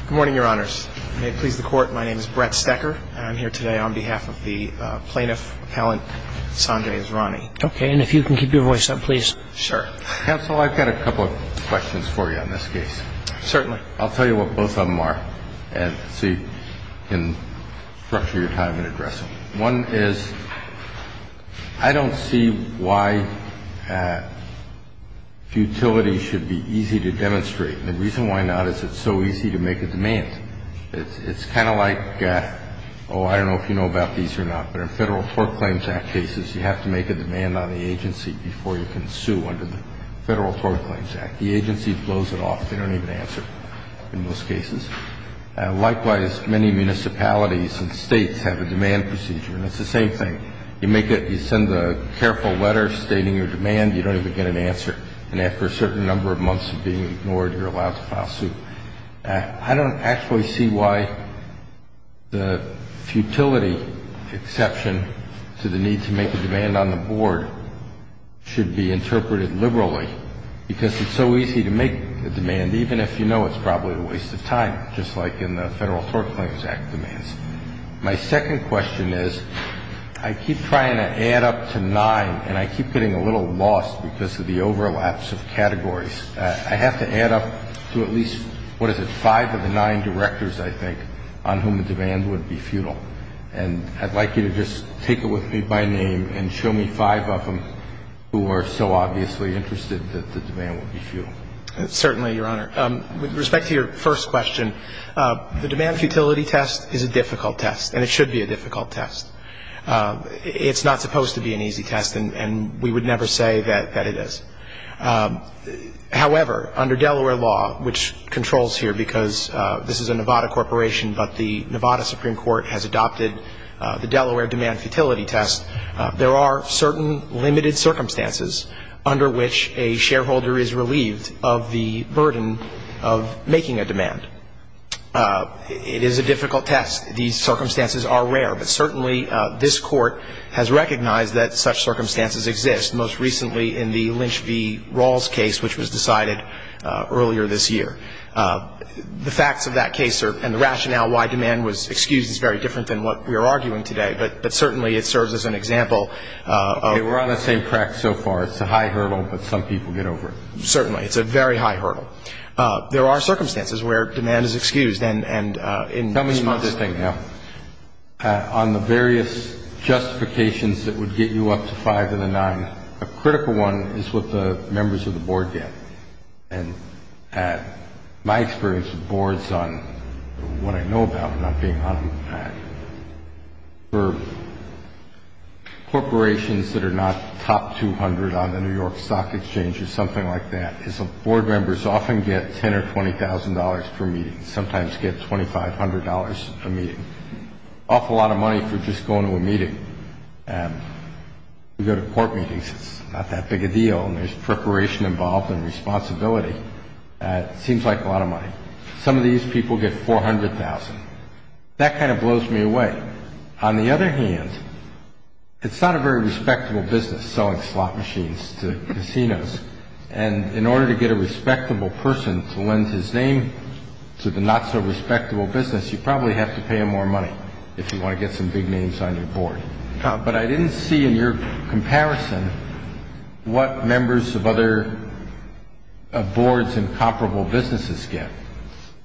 Good morning, Your Honors. May it please the Court, my name is Brett Stecker, and I'm here today on behalf of the plaintiff, Appellant Sanjay Israni. Okay, and if you can keep your voice up, please. Sure. Counsel, I've got a couple of questions for you on this case. Certainly. I'll tell you what both of them are so you can structure your time and address them. One is, I don't see why futility should be easy to demonstrate. The reason why not is it's so easy to make a demand. It's kind of like, oh, I don't know if you know about these or not, but in Federal Tort Claims Act cases, you have to make a demand on the agency before you can sue under the Federal Tort Claims Act. The agency blows it off. They don't even answer in most cases. Likewise, many municipalities and states have a demand procedure, and it's the same thing. You make it, you send a careful letter stating your demand, you don't even get an answer. And after a certain number of months of being ignored, you're allowed to file a suit. I don't actually see why the futility exception to the need to make a demand on the board should be interpreted liberally, because it's so easy to make a demand, even if you know it's probably a waste of time, just like in the Federal Tort Claims Act demands. My second question is, I keep trying to add up to nine, and I keep getting a little lost because of the overlaps of categories. I have to add up to at least, what is it, five of the nine directors, I think, on whom the demand would be futile. And I'd like you to just take it with me by name and show me five of them who are so obviously interested that the demand would be futile. Certainly, Your Honor. With respect to your first question, the demand futility test is a difficult test, and it should be a difficult test. It's not supposed to be an easy test, and we would never say that it is. However, under Delaware law, which controls here because this is a Nevada corporation, but the Nevada Supreme Court has adopted the Delaware demand futility test, there are certain limited circumstances under which a shareholder is relieved of the burden of making a demand. It is a difficult test. These circumstances are rare, but certainly this Court has recognized that such circumstances exist, most recently in the Lynch v. Rawls case, which was decided earlier this year. The facts of that case and the rationale why demand was excused is very different than what we are arguing today, but certainly it serves as an example. Okay. We're on the same track so far. It's a high hurdle, but some people get over it. Certainly. It's a very high hurdle. There are circumstances where demand is excused and in response to that. Tell me something, now. On the various justifications that would get you up to five of the nine, a critical one is what the members of the board get. And my experience with boards on what I know about them, not being on them, for corporations that are not top 200 on the New York Stock Exchange or something like that, is the board members often get $10,000 or $20,000 per meeting, sometimes get $2,500 a meeting, an awful lot of money for just going to a meeting. We go to court meetings. It's not that big a deal, and there's preparation involved and responsibility. It seems like a lot of money. Some of these people get $400,000. That kind of blows me away. On the other hand, it's not a very respectable business selling slot machines to casinos, and in order to get a respectable person to lend his name to the not-so-respectable business, you probably have to pay him more money if you want to get some big names on your board. But I didn't see in your comparison what members of other boards and comparable businesses get.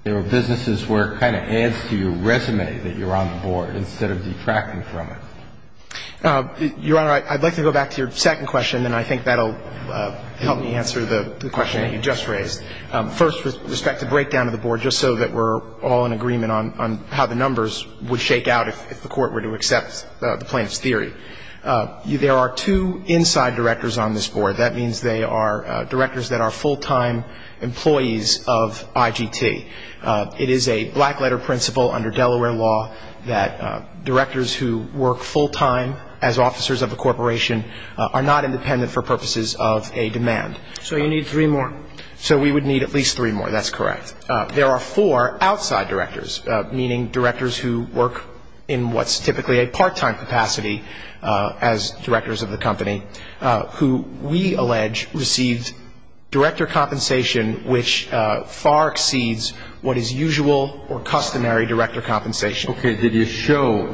There are businesses where it kind of adds to your resume that you're on the board instead of detracting from it. Your Honor, I'd like to go back to your second question, and I think that will help me answer the question that you just raised. First, with respect to the breakdown of the board, just so that we're all in agreement on how the numbers would shake out if the court were to accept the plaintiff's theory, there are two inside directors on this board. That means they are directors that are full-time employees of IGT. It is a black-letter principle under Delaware law that directors who work full-time as officers of a corporation are not independent for purposes of a demand. So you need three more. So we would need at least three more. That's correct. There are four outside directors, meaning directors who work in what's typically a part-time capacity as directors of the company, who we allege received director compensation which far exceeds what is usual or customary director compensation. Okay. Did you show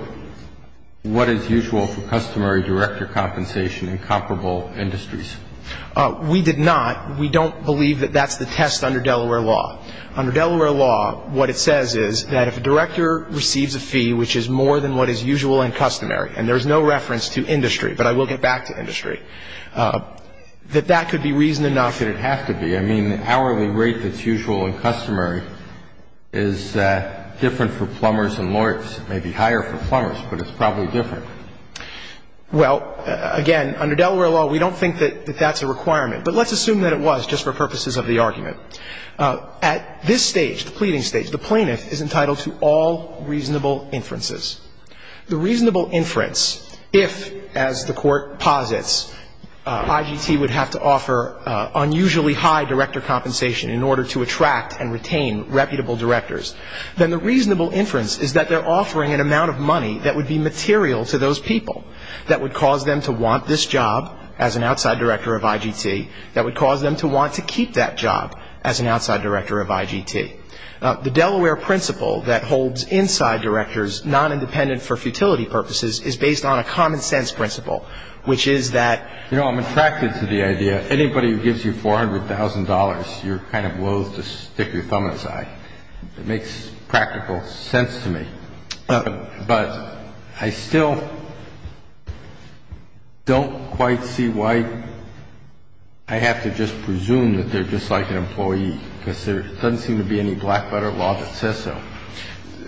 what is usual for customary director compensation in comparable industries? We did not. We don't believe that that's the test under Delaware law. Under Delaware law, what it says is that if a director receives a fee which is more than what is usual and customary, and there's no reference to industry, but I will get back to industry, that that could be reason enough that it has to be. I mean, the hourly rate that's usual and customary is different for plumbers and lawyers. It may be higher for plumbers, but it's probably different. Well, again, under Delaware law, we don't think that that's a requirement, but let's assume that it was just for purposes of the argument. At this stage, the pleading stage, the plaintiff is entitled to all reasonable inferences. The reasonable inference, if, as the Court posits, IGT would have to offer unusually high director compensation in order to attract and retain reputable directors, then the reasonable inference is that they're offering an amount of money that would be material to those people, that would cause them to want this job as an outside director of IGT, that would cause them to want to keep that job as an outside director of IGT. The Delaware principle that holds inside directors non-independent for futility purposes is based on a common-sense principle, which is that, you know, I'm attracted to the idea, anybody who gives you $400,000, you're kind of loathe to stick your thumb in his eye. It makes practical sense to me. But I still don't quite see why I have to just presume that they're just like an employee, because there doesn't seem to be any black-butter law that says so.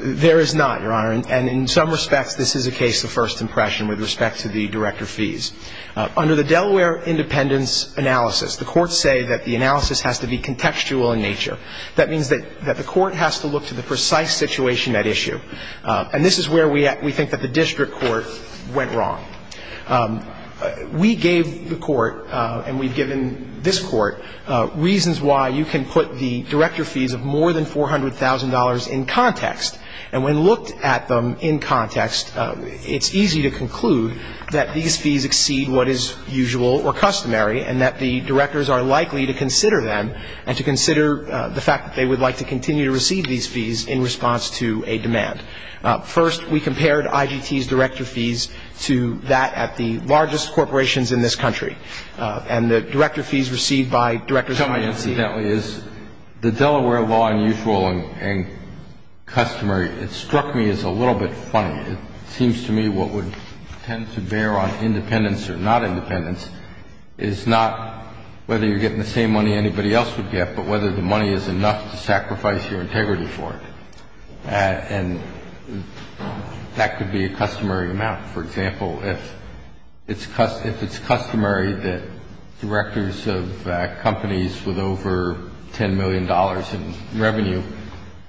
There is not, Your Honor. And in some respects, this is a case of first impression with respect to the director fees. Under the Delaware independence analysis, the courts say that the analysis has to be contextual in nature. That means that the court has to look to the precise situation at issue. And this is where we think that the district court went wrong. We gave the court, and we've given this court, reasons why you can put the director fees of more than $400,000 in context. And when looked at them in context, it's easy to conclude that these fees exceed what is usual or customary and that the directors are likely to consider them and to consider the fact that they would like to continue to receive these fees in response to a demand. First, we compared IGT's director fees to that at the largest corporations in this country. The Delaware law unusual and customary, it struck me as a little bit funny. It seems to me what would tend to bear on independence or not independence is not whether you're getting the same money anybody else would get, but whether the money is enough to sacrifice your integrity for it. And that could be a customary amount. For example, if it's customary that directors of companies with over $10 million in revenue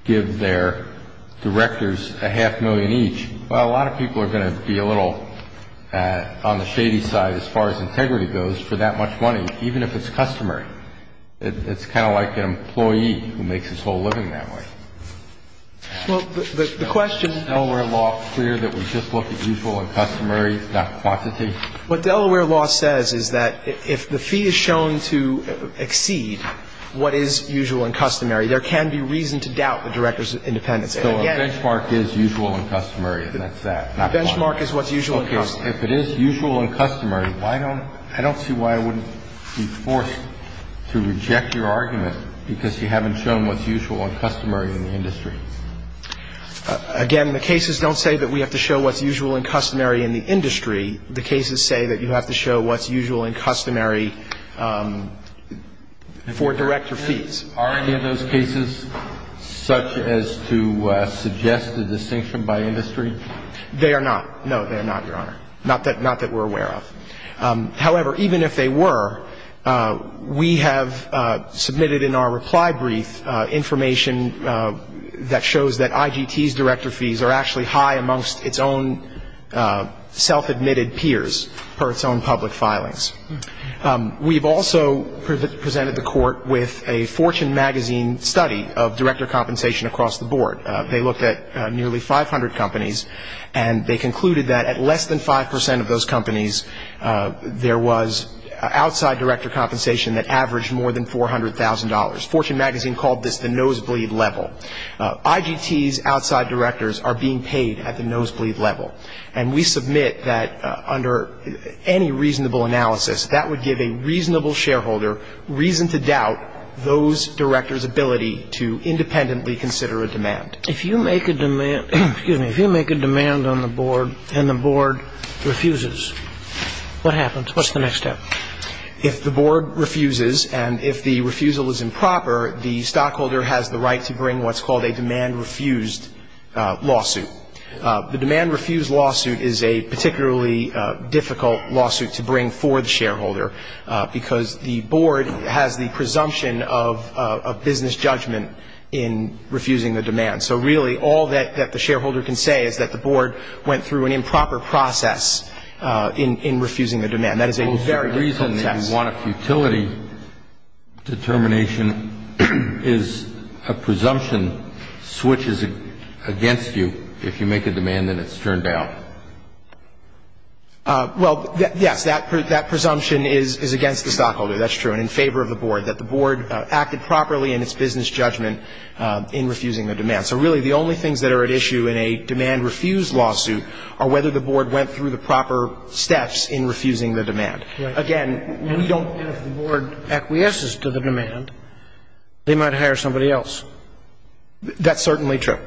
give their directors a half million each, well, a lot of people are going to be a little on the shady side as far as integrity goes for that much money, even if it's customary. It's kind of like an employee who makes his whole living that way. Well, the question — Is Delaware law clear that we just look at usual and customary, not quantity? What Delaware law says is that if the fee is shown to exceed what is usual and customary, there can be reason to doubt the director's independence. So a benchmark is usual and customary, and that's that, not quantity. A benchmark is what's usual and customary. Okay. If it is usual and customary, I don't see why I wouldn't be forced to reject your argument because you haven't shown what's usual and customary in the industry. Again, the cases don't say that we have to show what's usual and customary in the industry. The cases say that you have to show what's usual and customary for director fees. Are any of those cases such as to suggest a distinction by industry? They are not. No, they are not, Your Honor. Not that we're aware of. However, even if they were, we have submitted in our reply brief information that shows that IGT's director fees are actually high amongst its own self-admitted peers per its own public filings. We've also presented the Court with a Fortune magazine study of director compensation across the board. They looked at nearly 500 companies, and they concluded that at less than 5 percent of those companies, there was outside director compensation that averaged more than $400,000. Fortune magazine called this the nosebleed level. IGT's outside directors are being paid at the nosebleed level, and we submit that under any reasonable analysis, that would give a reasonable shareholder reason to doubt those directors' ability to independently consider a demand. If you make a demand on the board and the board refuses, what happens? What's the next step? If the board refuses and if the refusal is improper, the stockholder has the right to bring what's called a demand refused lawsuit. The demand refused lawsuit is a particularly difficult lawsuit to bring for the shareholder because the board has the presumption of business judgment in refusing the demand. So really all that the shareholder can say is that the board went through an improper process in refusing the demand. That is a very difficult test. The reason that you want a futility determination is a presumption switches against you if you make a demand and it's turned down. Well, yes, that presumption is against the stockholder, that's true, and in favor of the board, that the board acted properly in its business judgment in refusing the demand. So really the only things that are at issue in a demand refused lawsuit are whether the board went through the proper steps in refusing the demand. Again, we don't know if the board acquiesces to the demand, they might hire somebody else. That's certainly true.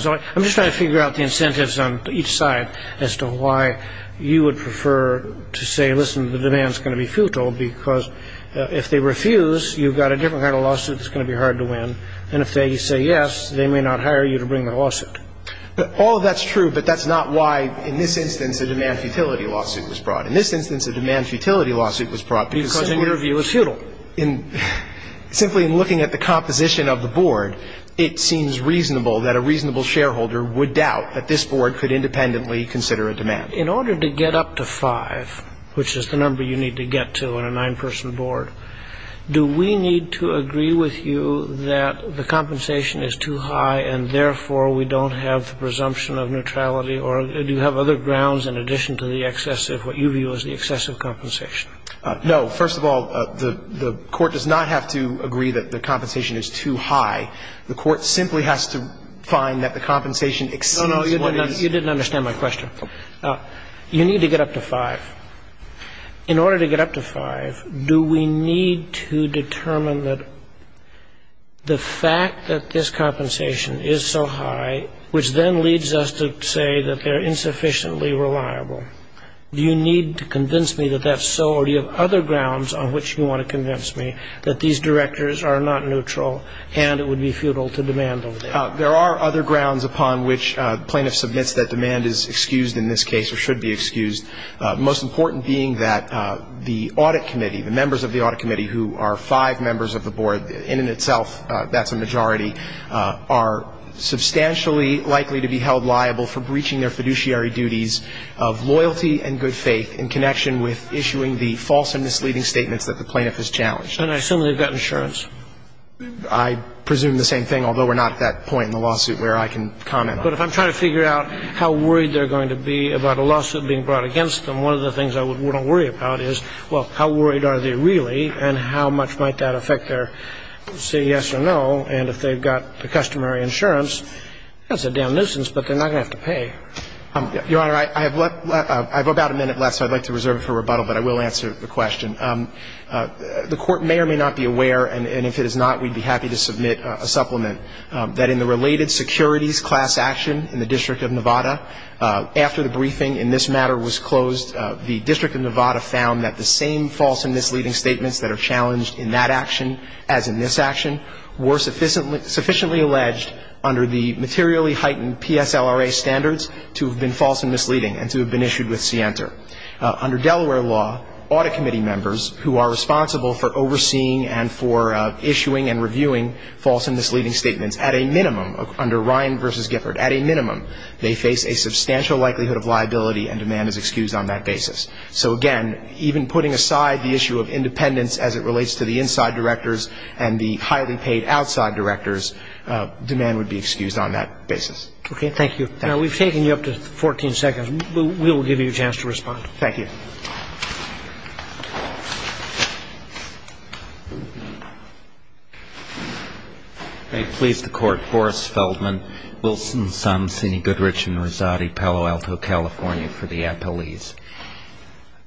So I'm just trying to figure out the incentives on each side as to why you would prefer to say, listen, the demand is going to be futile because if they refuse, you've got a different kind of lawsuit that's going to be hard to win, and if they say yes, they may not hire you to bring the lawsuit. All of that's true, but that's not why in this instance a demand futility lawsuit was brought. In this instance a demand futility lawsuit was brought because in your view it's futile. It seems reasonable that a reasonable shareholder would doubt that this board could independently consider a demand. In order to get up to five, which is the number you need to get to in a nine-person board, do we need to agree with you that the compensation is too high and therefore we don't have the presumption of neutrality, or do you have other grounds in addition to the excessive, what you view as the excessive compensation? No. First of all, the court does not have to agree that the compensation is too high. The court simply has to find that the compensation exceeds what it is. No, no. You didn't understand my question. You need to get up to five. In order to get up to five, do we need to determine that the fact that this compensation is so high, which then leads us to say that they're insufficiently reliable, do you need to convince me that that's so, or do you have other grounds on which you want to convince me that these directors are not neutral and it would be futile to demand them? There are other grounds upon which plaintiff submits that demand is excused in this case or should be excused, most important being that the audit committee, the members of the audit committee who are five members of the board, and in itself that's a majority, are substantially likely to be held liable for breaching their fiduciary duties of loyalty and good faith in connection with issuing the false and misleading statements that the plaintiff has challenged. And I assume they've got insurance. I presume the same thing, although we're not at that point in the lawsuit where I can comment on it. But if I'm trying to figure out how worried they're going to be about a lawsuit being brought against them, one of the things I wouldn't worry about is, well, how worried are they really and how much might that affect their say yes or no, and if they've got the customary insurance, that's a damn nuisance, but they're not going to have to pay. Your Honor, I have about a minute left, so I'd like to reserve it for rebuttal, but I will answer the question. The Court may or may not be aware, and if it is not, we'd be happy to submit a supplement, that in the related securities class action in the District of Nevada, after the briefing in this matter was closed, the District of Nevada found that the same false and misleading statements that are challenged in that action as in this action were sufficiently alleged under the materially heightened PSLRA standards to have been false and misleading and to have been issued with scienter. Under Delaware law, audit committee members who are responsible for overseeing and for issuing and reviewing false and misleading statements, at a minimum, under Ryan v. Gifford, at a minimum, they face a substantial likelihood of liability and demand is excused on that basis. So, again, even putting aside the issue of independence as it relates to the inside directors and the highly paid outside directors, demand would be excused on that basis. Okay, thank you. Now, we've taken you up to 14 seconds. We'll give you a chance to respond. Thank you. May it please the Court, I'm Boris Feldman, Wilson's son, Sini Goodrich and Rosati Palo Alto, California, for the appellees.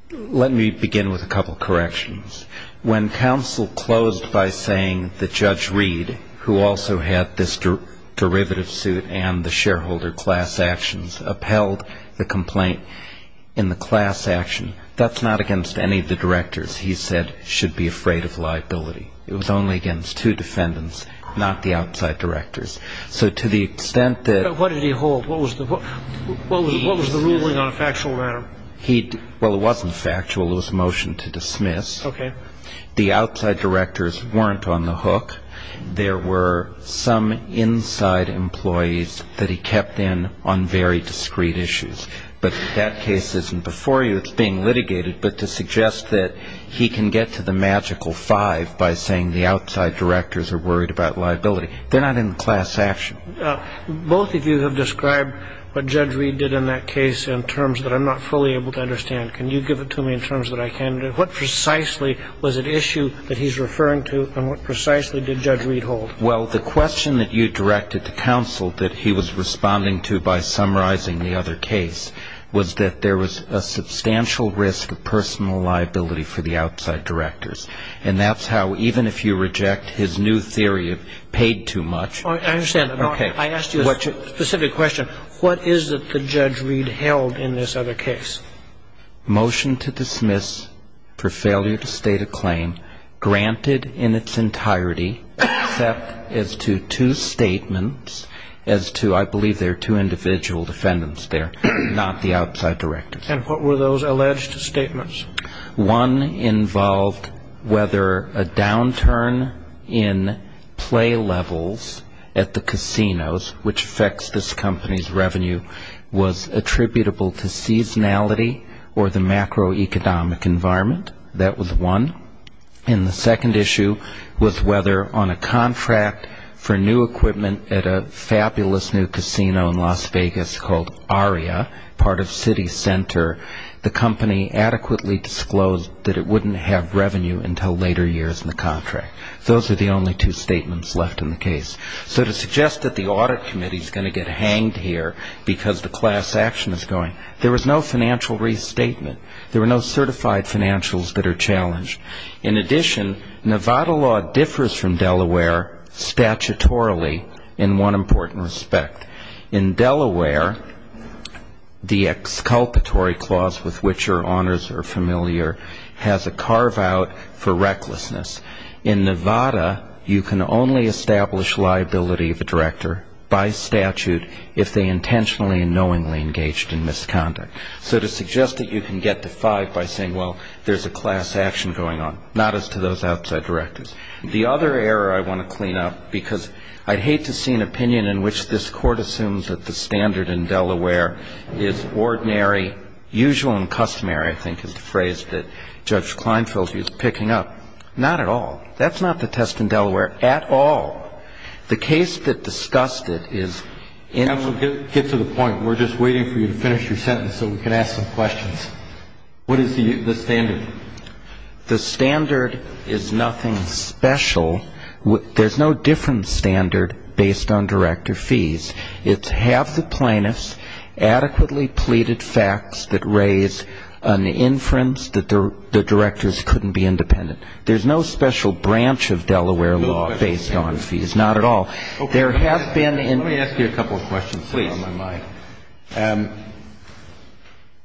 Let me begin with a couple of corrections. When counsel closed by saying that Judge Reed, who also had this derivative suit and the shareholder class actions, upheld the complaint in the class action, that's not against any of the directors he said should be afraid of liability. It was only against two defendants, not the outside directors. So to the extent that What did he hold? What was the ruling on a factual matter? Well, it wasn't factual. It was a motion to dismiss. Okay. The outside directors weren't on the hook. There were some inside employees that he kept in on very discreet issues. But that case isn't before you. It's being litigated, but to suggest that he can get to the magical five by saying the outside directors are worried about liability. They're not in the class action. Both of you have described what Judge Reed did in that case in terms that I'm not fully able to understand. Can you give it to me in terms that I can? What precisely was at issue that he's referring to and what precisely did Judge Reed hold? Well, the question that you directed to counsel that he was responding to by summarizing the other case was that there was a substantial risk of personal liability for the outside directors. And that's how even if you reject his new theory of paid too much. I understand. I asked you a specific question. What is it that Judge Reed held in this other case? Motion to dismiss for failure to state a claim granted in its entirety except as to two statements, as to I believe there are two individual defendants there, not the outside directors. And what were those alleged statements? One involved whether a downturn in play levels at the casinos, which affects this company's revenue, was attributable to seasonality or the macroeconomic environment. That was one. And the second issue was whether on a contract for new equipment at a fabulous new casino in Las Vegas called Aria, part of City Center, the company adequately disclosed that it wouldn't have revenue until later years in the contract. Those are the only two statements left in the case. So to suggest that the audit committee is going to get hanged here because the class action is going, there was no financial restatement. There were no certified financials that are challenged. In addition, Nevada law differs from Delaware statutorily in one important respect. In Delaware, the exculpatory clause with which your honors are familiar has a carve-out for recklessness. In Nevada, you can only establish liability of a director by statute if they intentionally and knowingly engaged in misconduct. So to suggest that you can get to five by saying, well, there's a class action going on, not as to those outside directors. The other error I want to clean up, because I'd hate to see an opinion in which this court assumes that the standard in Delaware is ordinary, usual and customary, I think is the phrase that Judge Kleinfeld used, picking up. Not at all. That's not the test in Delaware at all. The case that discussed it is in. I'm going to get to the point. We're just waiting for you to finish your sentence so we can ask some questions. What is the standard? The standard is nothing special. There's no different standard based on director fees. It's half the plaintiffs adequately pleaded facts that raise an inference that the directors couldn't be independent. There's no special branch of Delaware law based on fees. Not at all. Let me ask you a couple of questions that are on my mind.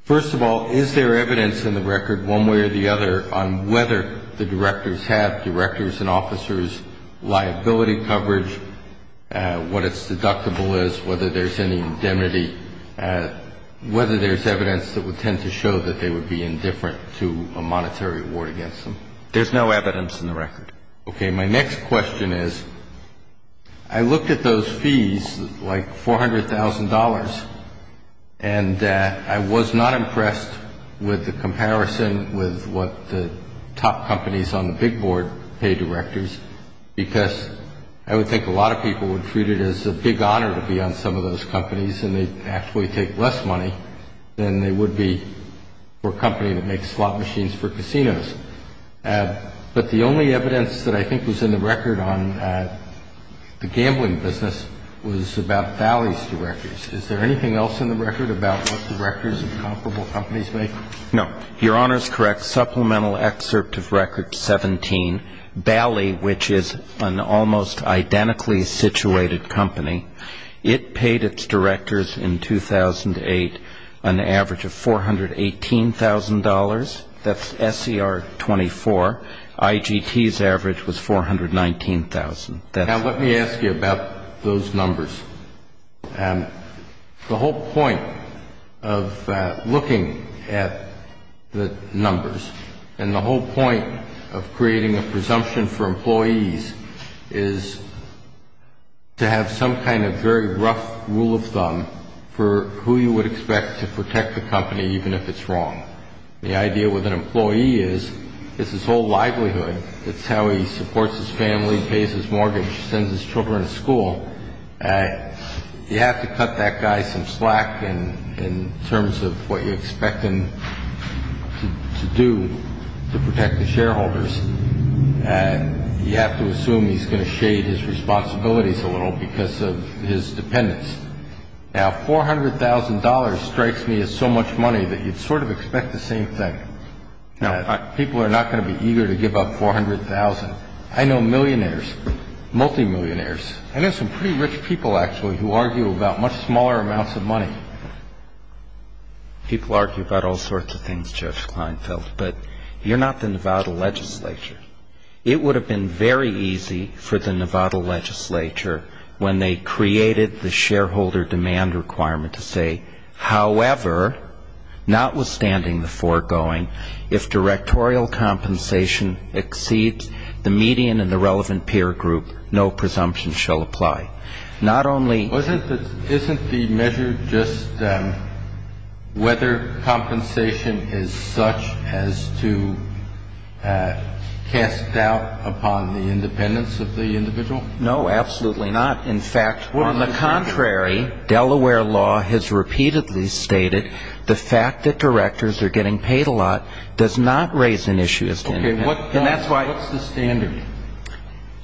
First of all, is there evidence in the record one way or the other on whether the directors have, directors and officers, liability coverage, what its deductible is, whether there's any indemnity, whether there's evidence that would tend to show that they would be indifferent to a monetary award against them? There's no evidence in the record. Okay. My next question is I looked at those fees, like $400,000, and I was not impressed with the comparison with what the top companies on the big board pay directors because I would think a lot of people would treat it as a big honor to be on some of those companies, and they actually take less money than they would be for a company that makes slot machines for casinos. But the only evidence that I think was in the record on the gambling business was about Bally's directors. Is there anything else in the record about what the directors of comparable companies make? No. Your Honor is correct. Supplemental excerpt of record 17, Bally, which is an almost identically situated company, it paid its directors in 2008 an average of $418,000. That's SCR 24. IGT's average was $419,000. Now, let me ask you about those numbers. The whole point of looking at the numbers and the whole point of creating a presumption for employees is to have some kind of very rough rule of thumb for who you would expect to protect the company even if it's wrong. The idea with an employee is it's his whole livelihood. It's how he supports his family, pays his mortgage, sends his children to school. You have to cut that guy some slack in terms of what you expect him to do to protect the shareholders. You have to assume he's going to shade his responsibilities a little because of his dependence. Now, $400,000 strikes me as so much money that you'd sort of expect the same thing. People are not going to be eager to give up $400,000. I know millionaires, multimillionaires. I know some pretty rich people, actually, who argue about much smaller amounts of money. People argue about all sorts of things, Judge Kleinfeld, but you're not the Nevada legislature. It would have been very easy for the Nevada legislature, when they created the shareholder demand requirement, to say, however, notwithstanding the foregoing, if directorial compensation exceeds the median in the relevant peer group, no presumption shall apply. Isn't the measure just whether compensation is such as to cast doubt upon the independence of the individual? No, absolutely not. In fact, on the contrary, Delaware law has repeatedly stated the fact that directors are getting paid a lot does not raise an issue. What's the standard?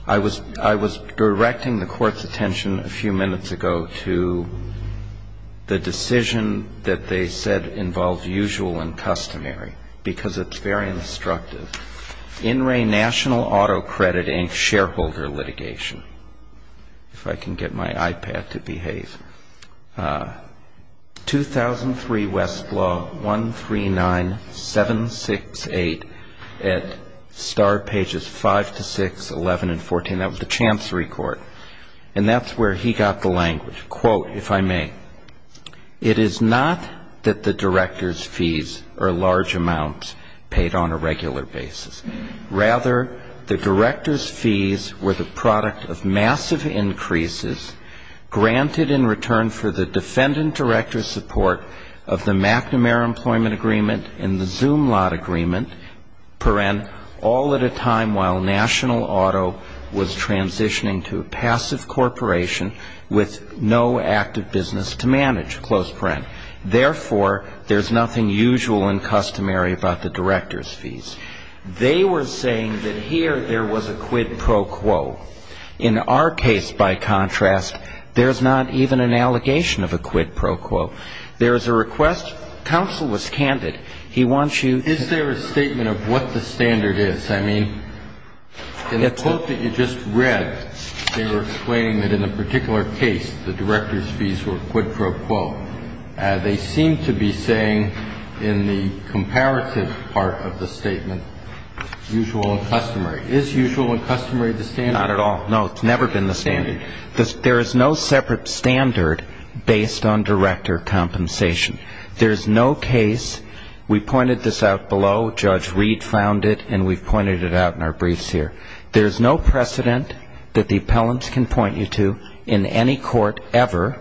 I was directing the court's attention a few minutes ago to the decision that they said involves usual and customary, because it's very instructive. In re national auto credit and shareholder litigation, if I can get my iPad to behave, 2003 Westlaw 139768 at star pages 5 to 6, 11 and 14. That was the chancery court. And that's where he got the language. Quote, if I may, it is not that the director's fees are large amounts paid on a regular basis. Rather, the director's fees were the product of massive increases granted in return for the defendant director's support of the McNamara Employment Agreement and the Zoom Lot Agreement, all at a time while national auto was transitioning to a passive corporation with no active business to manage. Therefore, there's nothing usual and customary about the director's fees. They were saying that here there was a quid pro quo. In our case, by contrast, there's not even an allegation of a quid pro quo. There is a request. Counsel was candid. He wants you. Is there a statement of what the standard is? In the quote that you just read, they were explaining that in a particular case, the director's fees were quid pro quo. They seem to be saying in the comparative part of the statement, usual and customary. Is usual and customary the standard? Not at all. No, it's never been the standard. There is no separate standard based on director compensation. There is no case. We pointed this out below. Judge Reed found it, and we've pointed it out in our briefs here. There's no precedent that the appellants can point you to in any court ever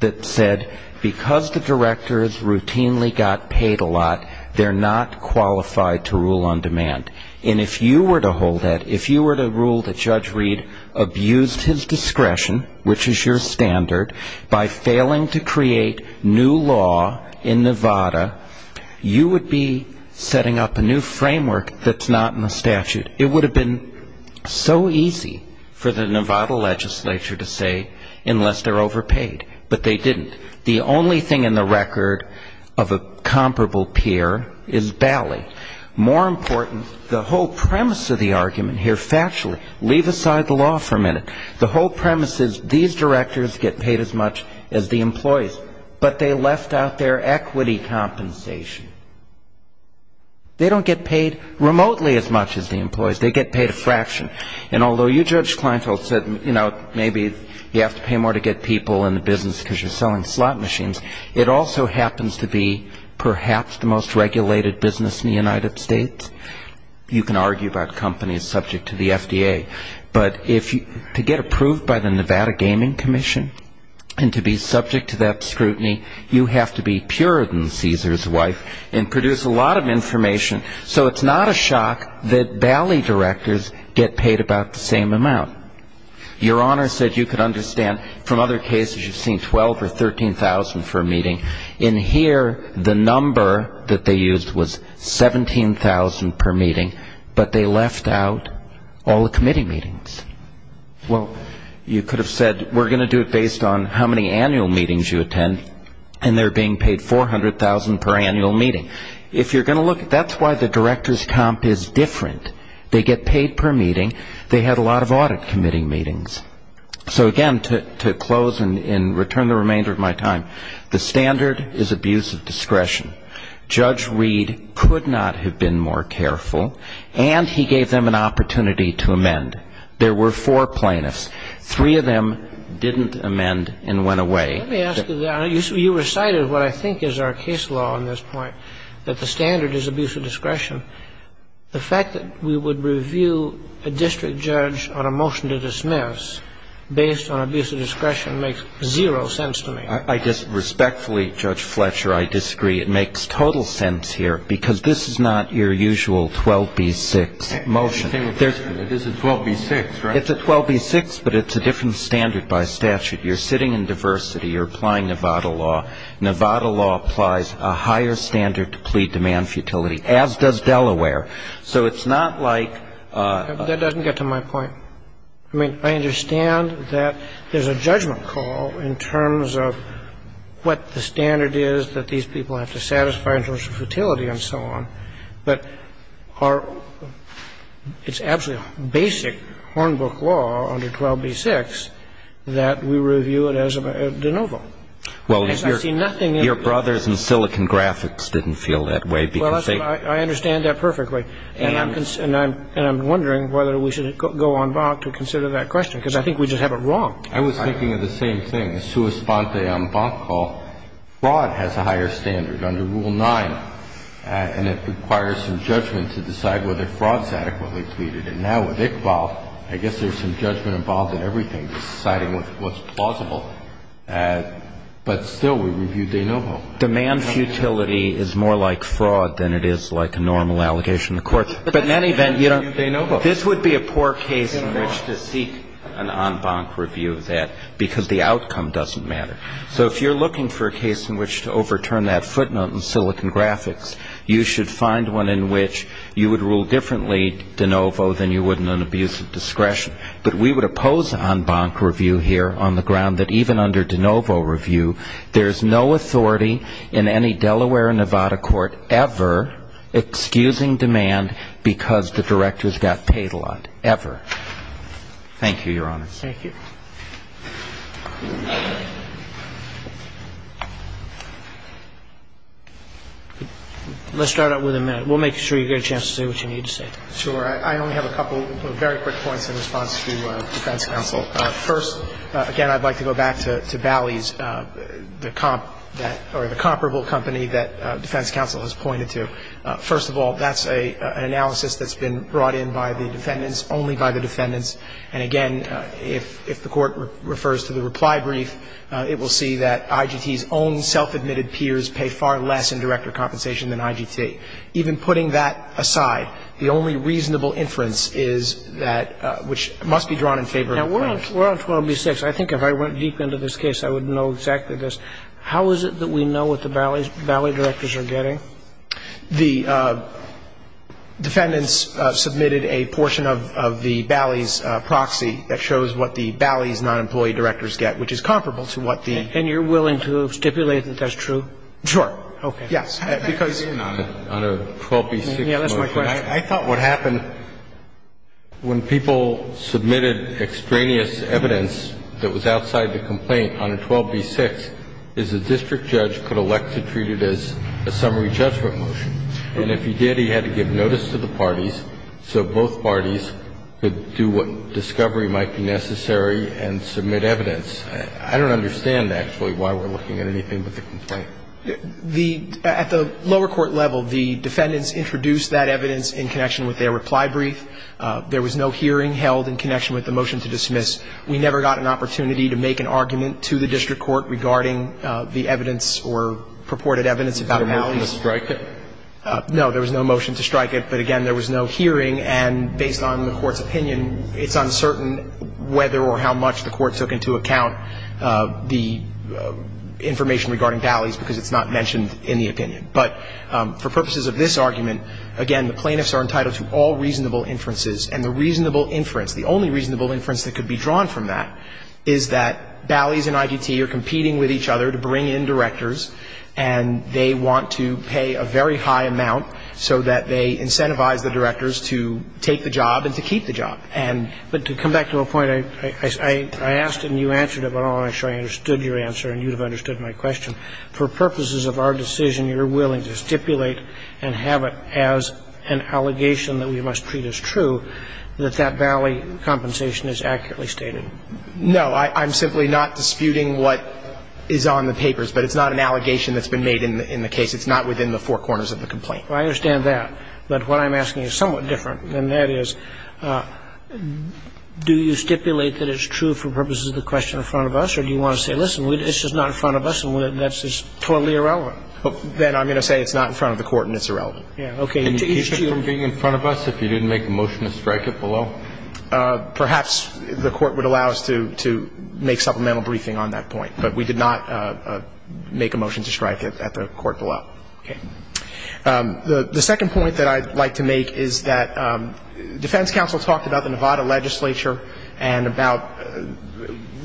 that said because the directors routinely got paid a lot, they're not qualified to rule on demand. And if you were to hold that, if you were to rule that Judge Reed abused his discretion, which is your standard, by failing to create new law in Nevada, you would be setting up a new framework that's not in the statute. It would have been so easy for the Nevada legislature to say unless they're overpaid, but they didn't. The only thing in the record of a comparable peer is Bali. More important, the whole premise of the argument here, factually, leave aside the law for a minute. The whole premise is these directors get paid as much as the employees, but they left out their equity compensation. They don't get paid remotely as much as the employees. They get paid a fraction. And although you, Judge Kleinfeld, said, you know, maybe you have to pay more to get people in the business because you're selling slot machines, it also happens to be perhaps the most regulated business in the United States. You can argue about companies subject to the FDA. But to get approved by the Nevada Gaming Commission and to be subject to that scrutiny, you have to be purer than Caesar's wife and produce a lot of information. So it's not a shock that Bali directors get paid about the same amount. Your Honor said you could understand from other cases you've seen $12,000 or $13,000 for a meeting. In here, the number that they used was $17,000 per meeting, but they left out all the committee meetings. Well, you could have said we're going to do it based on how many annual meetings you attend, and they're being paid $400,000 per annual meeting. If you're going to look, that's why the director's comp is different. They get paid per meeting. They had a lot of audit committee meetings. So again, to close and return the remainder of my time, the standard is abuse of discretion. Judge Reed could not have been more careful, and he gave them an opportunity to amend. There were four plaintiffs. Three of them didn't amend and went away. Let me ask you that. You recited what I think is our case law on this point, that the standard is abuse of discretion. The fact that we would review a district judge on a motion to dismiss based on abuse of discretion makes zero sense to me. I just respectfully, Judge Fletcher, I disagree. It makes total sense here because this is not your usual 12B6 motion. It is a 12B6, right? It's a 12B6, but it's a different standard by statute. You're sitting in diversity. You're applying Nevada law. Nevada law applies a higher standard to plea demand futility, as does Delaware. So it's not like ---- That doesn't get to my point. I mean, I understand that there's a judgment call in terms of what the standard is that these people have to satisfy in terms of futility and so on. But it's absolutely basic Hornbook law under 12B6 that we review it as a de novo. Well, your brothers in Silicon Graphics didn't feel that way because they ---- Well, I understand that perfectly. And I'm wondering whether we should go en banc to consider that question, because I think we just have it wrong. I was thinking of the same thing. A sua sponte en banc call, fraud has a higher standard under Rule 9, and it requires some judgment to decide whether fraud is adequately pleaded. And now with Iqbal, I guess there's some judgment involved in everything, deciding what's plausible, but still we review de novo. Demand futility is more like fraud than it is like a normal allegation in the court. But in any event, this would be a poor case in which to seek an en banc review of that because the outcome doesn't matter. So if you're looking for a case in which to overturn that footnote in Silicon Graphics, you should find one in which you would rule differently de novo than you would in an abuse of discretion. But we would oppose en banc review here on the ground that even under de novo review, there's no authority in any Delaware or Nevada court ever excusing demand because the directors got paid a lot, ever. Thank you, Your Honor. Thank you. Let's start out with a minute. We'll make sure you get a chance to say what you need to say. Sure. I only have a couple of very quick points in response to defense counsel. First, again, I'd like to go back to Bally's, the comparable company that defense counsel has pointed to. First of all, that's an analysis that's been brought in by the defendants, only by the defendants. And again, if the court refers to the reply brief, it will see that IGT's own self-admitted peers pay far less in director compensation than IGT. Even putting that aside, the only reasonable inference is that, which must be drawn in favor of the plaintiffs. Now, we're on 12B-6. I think if I went deep into this case, I would know exactly this. How is it that we know what the Bally directors are getting? The defendants submitted a portion of the Bally's proxy that shows what the Bally's non-employee directors get, which is comparable to what the ---- And you're willing to stipulate that that's true? Sure. Okay. Yes, because ---- On a 12B-6 motion, I thought what happened when people submitted extraneous evidence that was outside the complaint on a 12B-6 is a district judge could elect to treat it as a summary judgment motion. And if he did, he had to give notice to the parties so both parties could do what discovery might be necessary and submit evidence. I don't understand, actually, why we're looking at anything but the complaint. The ---- At the lower court level, the defendants introduced that evidence in connection with their reply brief. There was no hearing held in connection with the motion to dismiss. We never got an opportunity to make an argument to the district court regarding the evidence or purported evidence about Bally's. There was no motion to strike it? No, there was no motion to strike it. But, again, there was no hearing. And based on the Court's opinion, it's uncertain whether or how much the Court took into account the information regarding Bally's, because it's not mentioned in the opinion. But for purposes of this argument, again, the plaintiffs are entitled to all reasonable inferences. And the reasonable inference, the only reasonable inference that could be drawn from that is that Bally's and IDT are competing with each other to bring in directors, and they want to pay a very high amount so that they incentivize the directors to take the job and to keep the job. But to come back to a point, I asked and you answered it, but I don't want to make sure I understood your answer and you would have understood my question. For purposes of our decision, you're willing to stipulate and have it as an allegation that we must treat as true that that Bally compensation is accurately stated? No. I'm simply not disputing what is on the papers. But it's not an allegation that's been made in the case. It's not within the four corners of the complaint. I understand that. But what I'm asking is somewhat different, and that is, do you stipulate that it's true for purposes of the question in front of us, or do you want to say, listen, it's just not in front of us and that's just totally irrelevant? Then I'm going to say it's not in front of the Court and it's irrelevant. Yeah. Okay. Can you keep it from being in front of us if you didn't make a motion to strike it below? Perhaps the Court would allow us to make supplemental briefing on that point. But we did not make a motion to strike it at the Court below. Okay. The second point that I'd like to make is that defense counsel talked about the Nevada legislature and about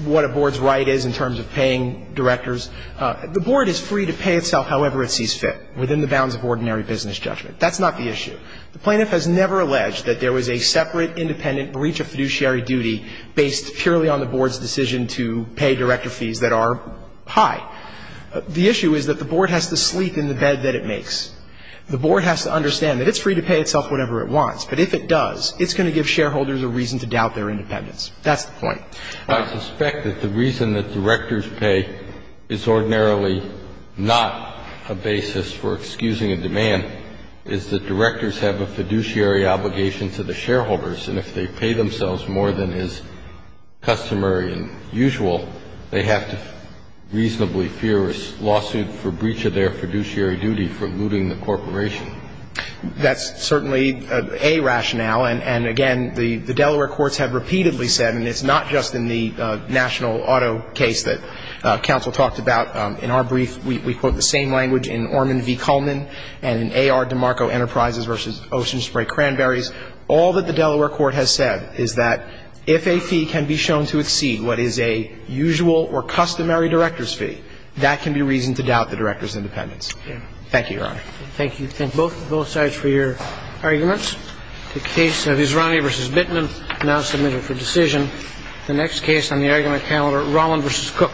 what a board's right is in terms of paying directors. The board is free to pay itself however it sees fit within the bounds of ordinary business judgment. That's not the issue. The plaintiff has never alleged that there was a separate independent breach of fiduciary duty based purely on the board's decision to pay director fees that are high. The issue is that the board has to sleep in the bed that it makes. The board has to understand that it's free to pay itself whatever it wants. But if it does, it's going to give shareholders a reason to doubt their independence. That's the point. I suspect that the reason that directors pay is ordinarily not a basis for excusing a demand is that directors have a fiduciary obligation to the shareholders. And if they pay themselves more than is customary and usual, they have to reasonably fear a lawsuit for breach of their fiduciary duty for looting the corporation. That's certainly a rationale. And, again, the Delaware courts have repeatedly said, and it's not just in the national auto case that counsel talked about. In our brief, we quote the same language in Orman v. Cullman and in A.R. DeMarco Enterprises v. Ocean Spray Cranberries. All that the Delaware court has said is that if a fee can be shown to exceed what is a usual or customary director's fee, that can be reason to doubt the director's independence. Thank you, Your Honor. Thank you. Thank both sides for your arguments. The case of Visrani v. Bittman, now submitted for decision. The next case on the argument calendar, Rolland v. Cook.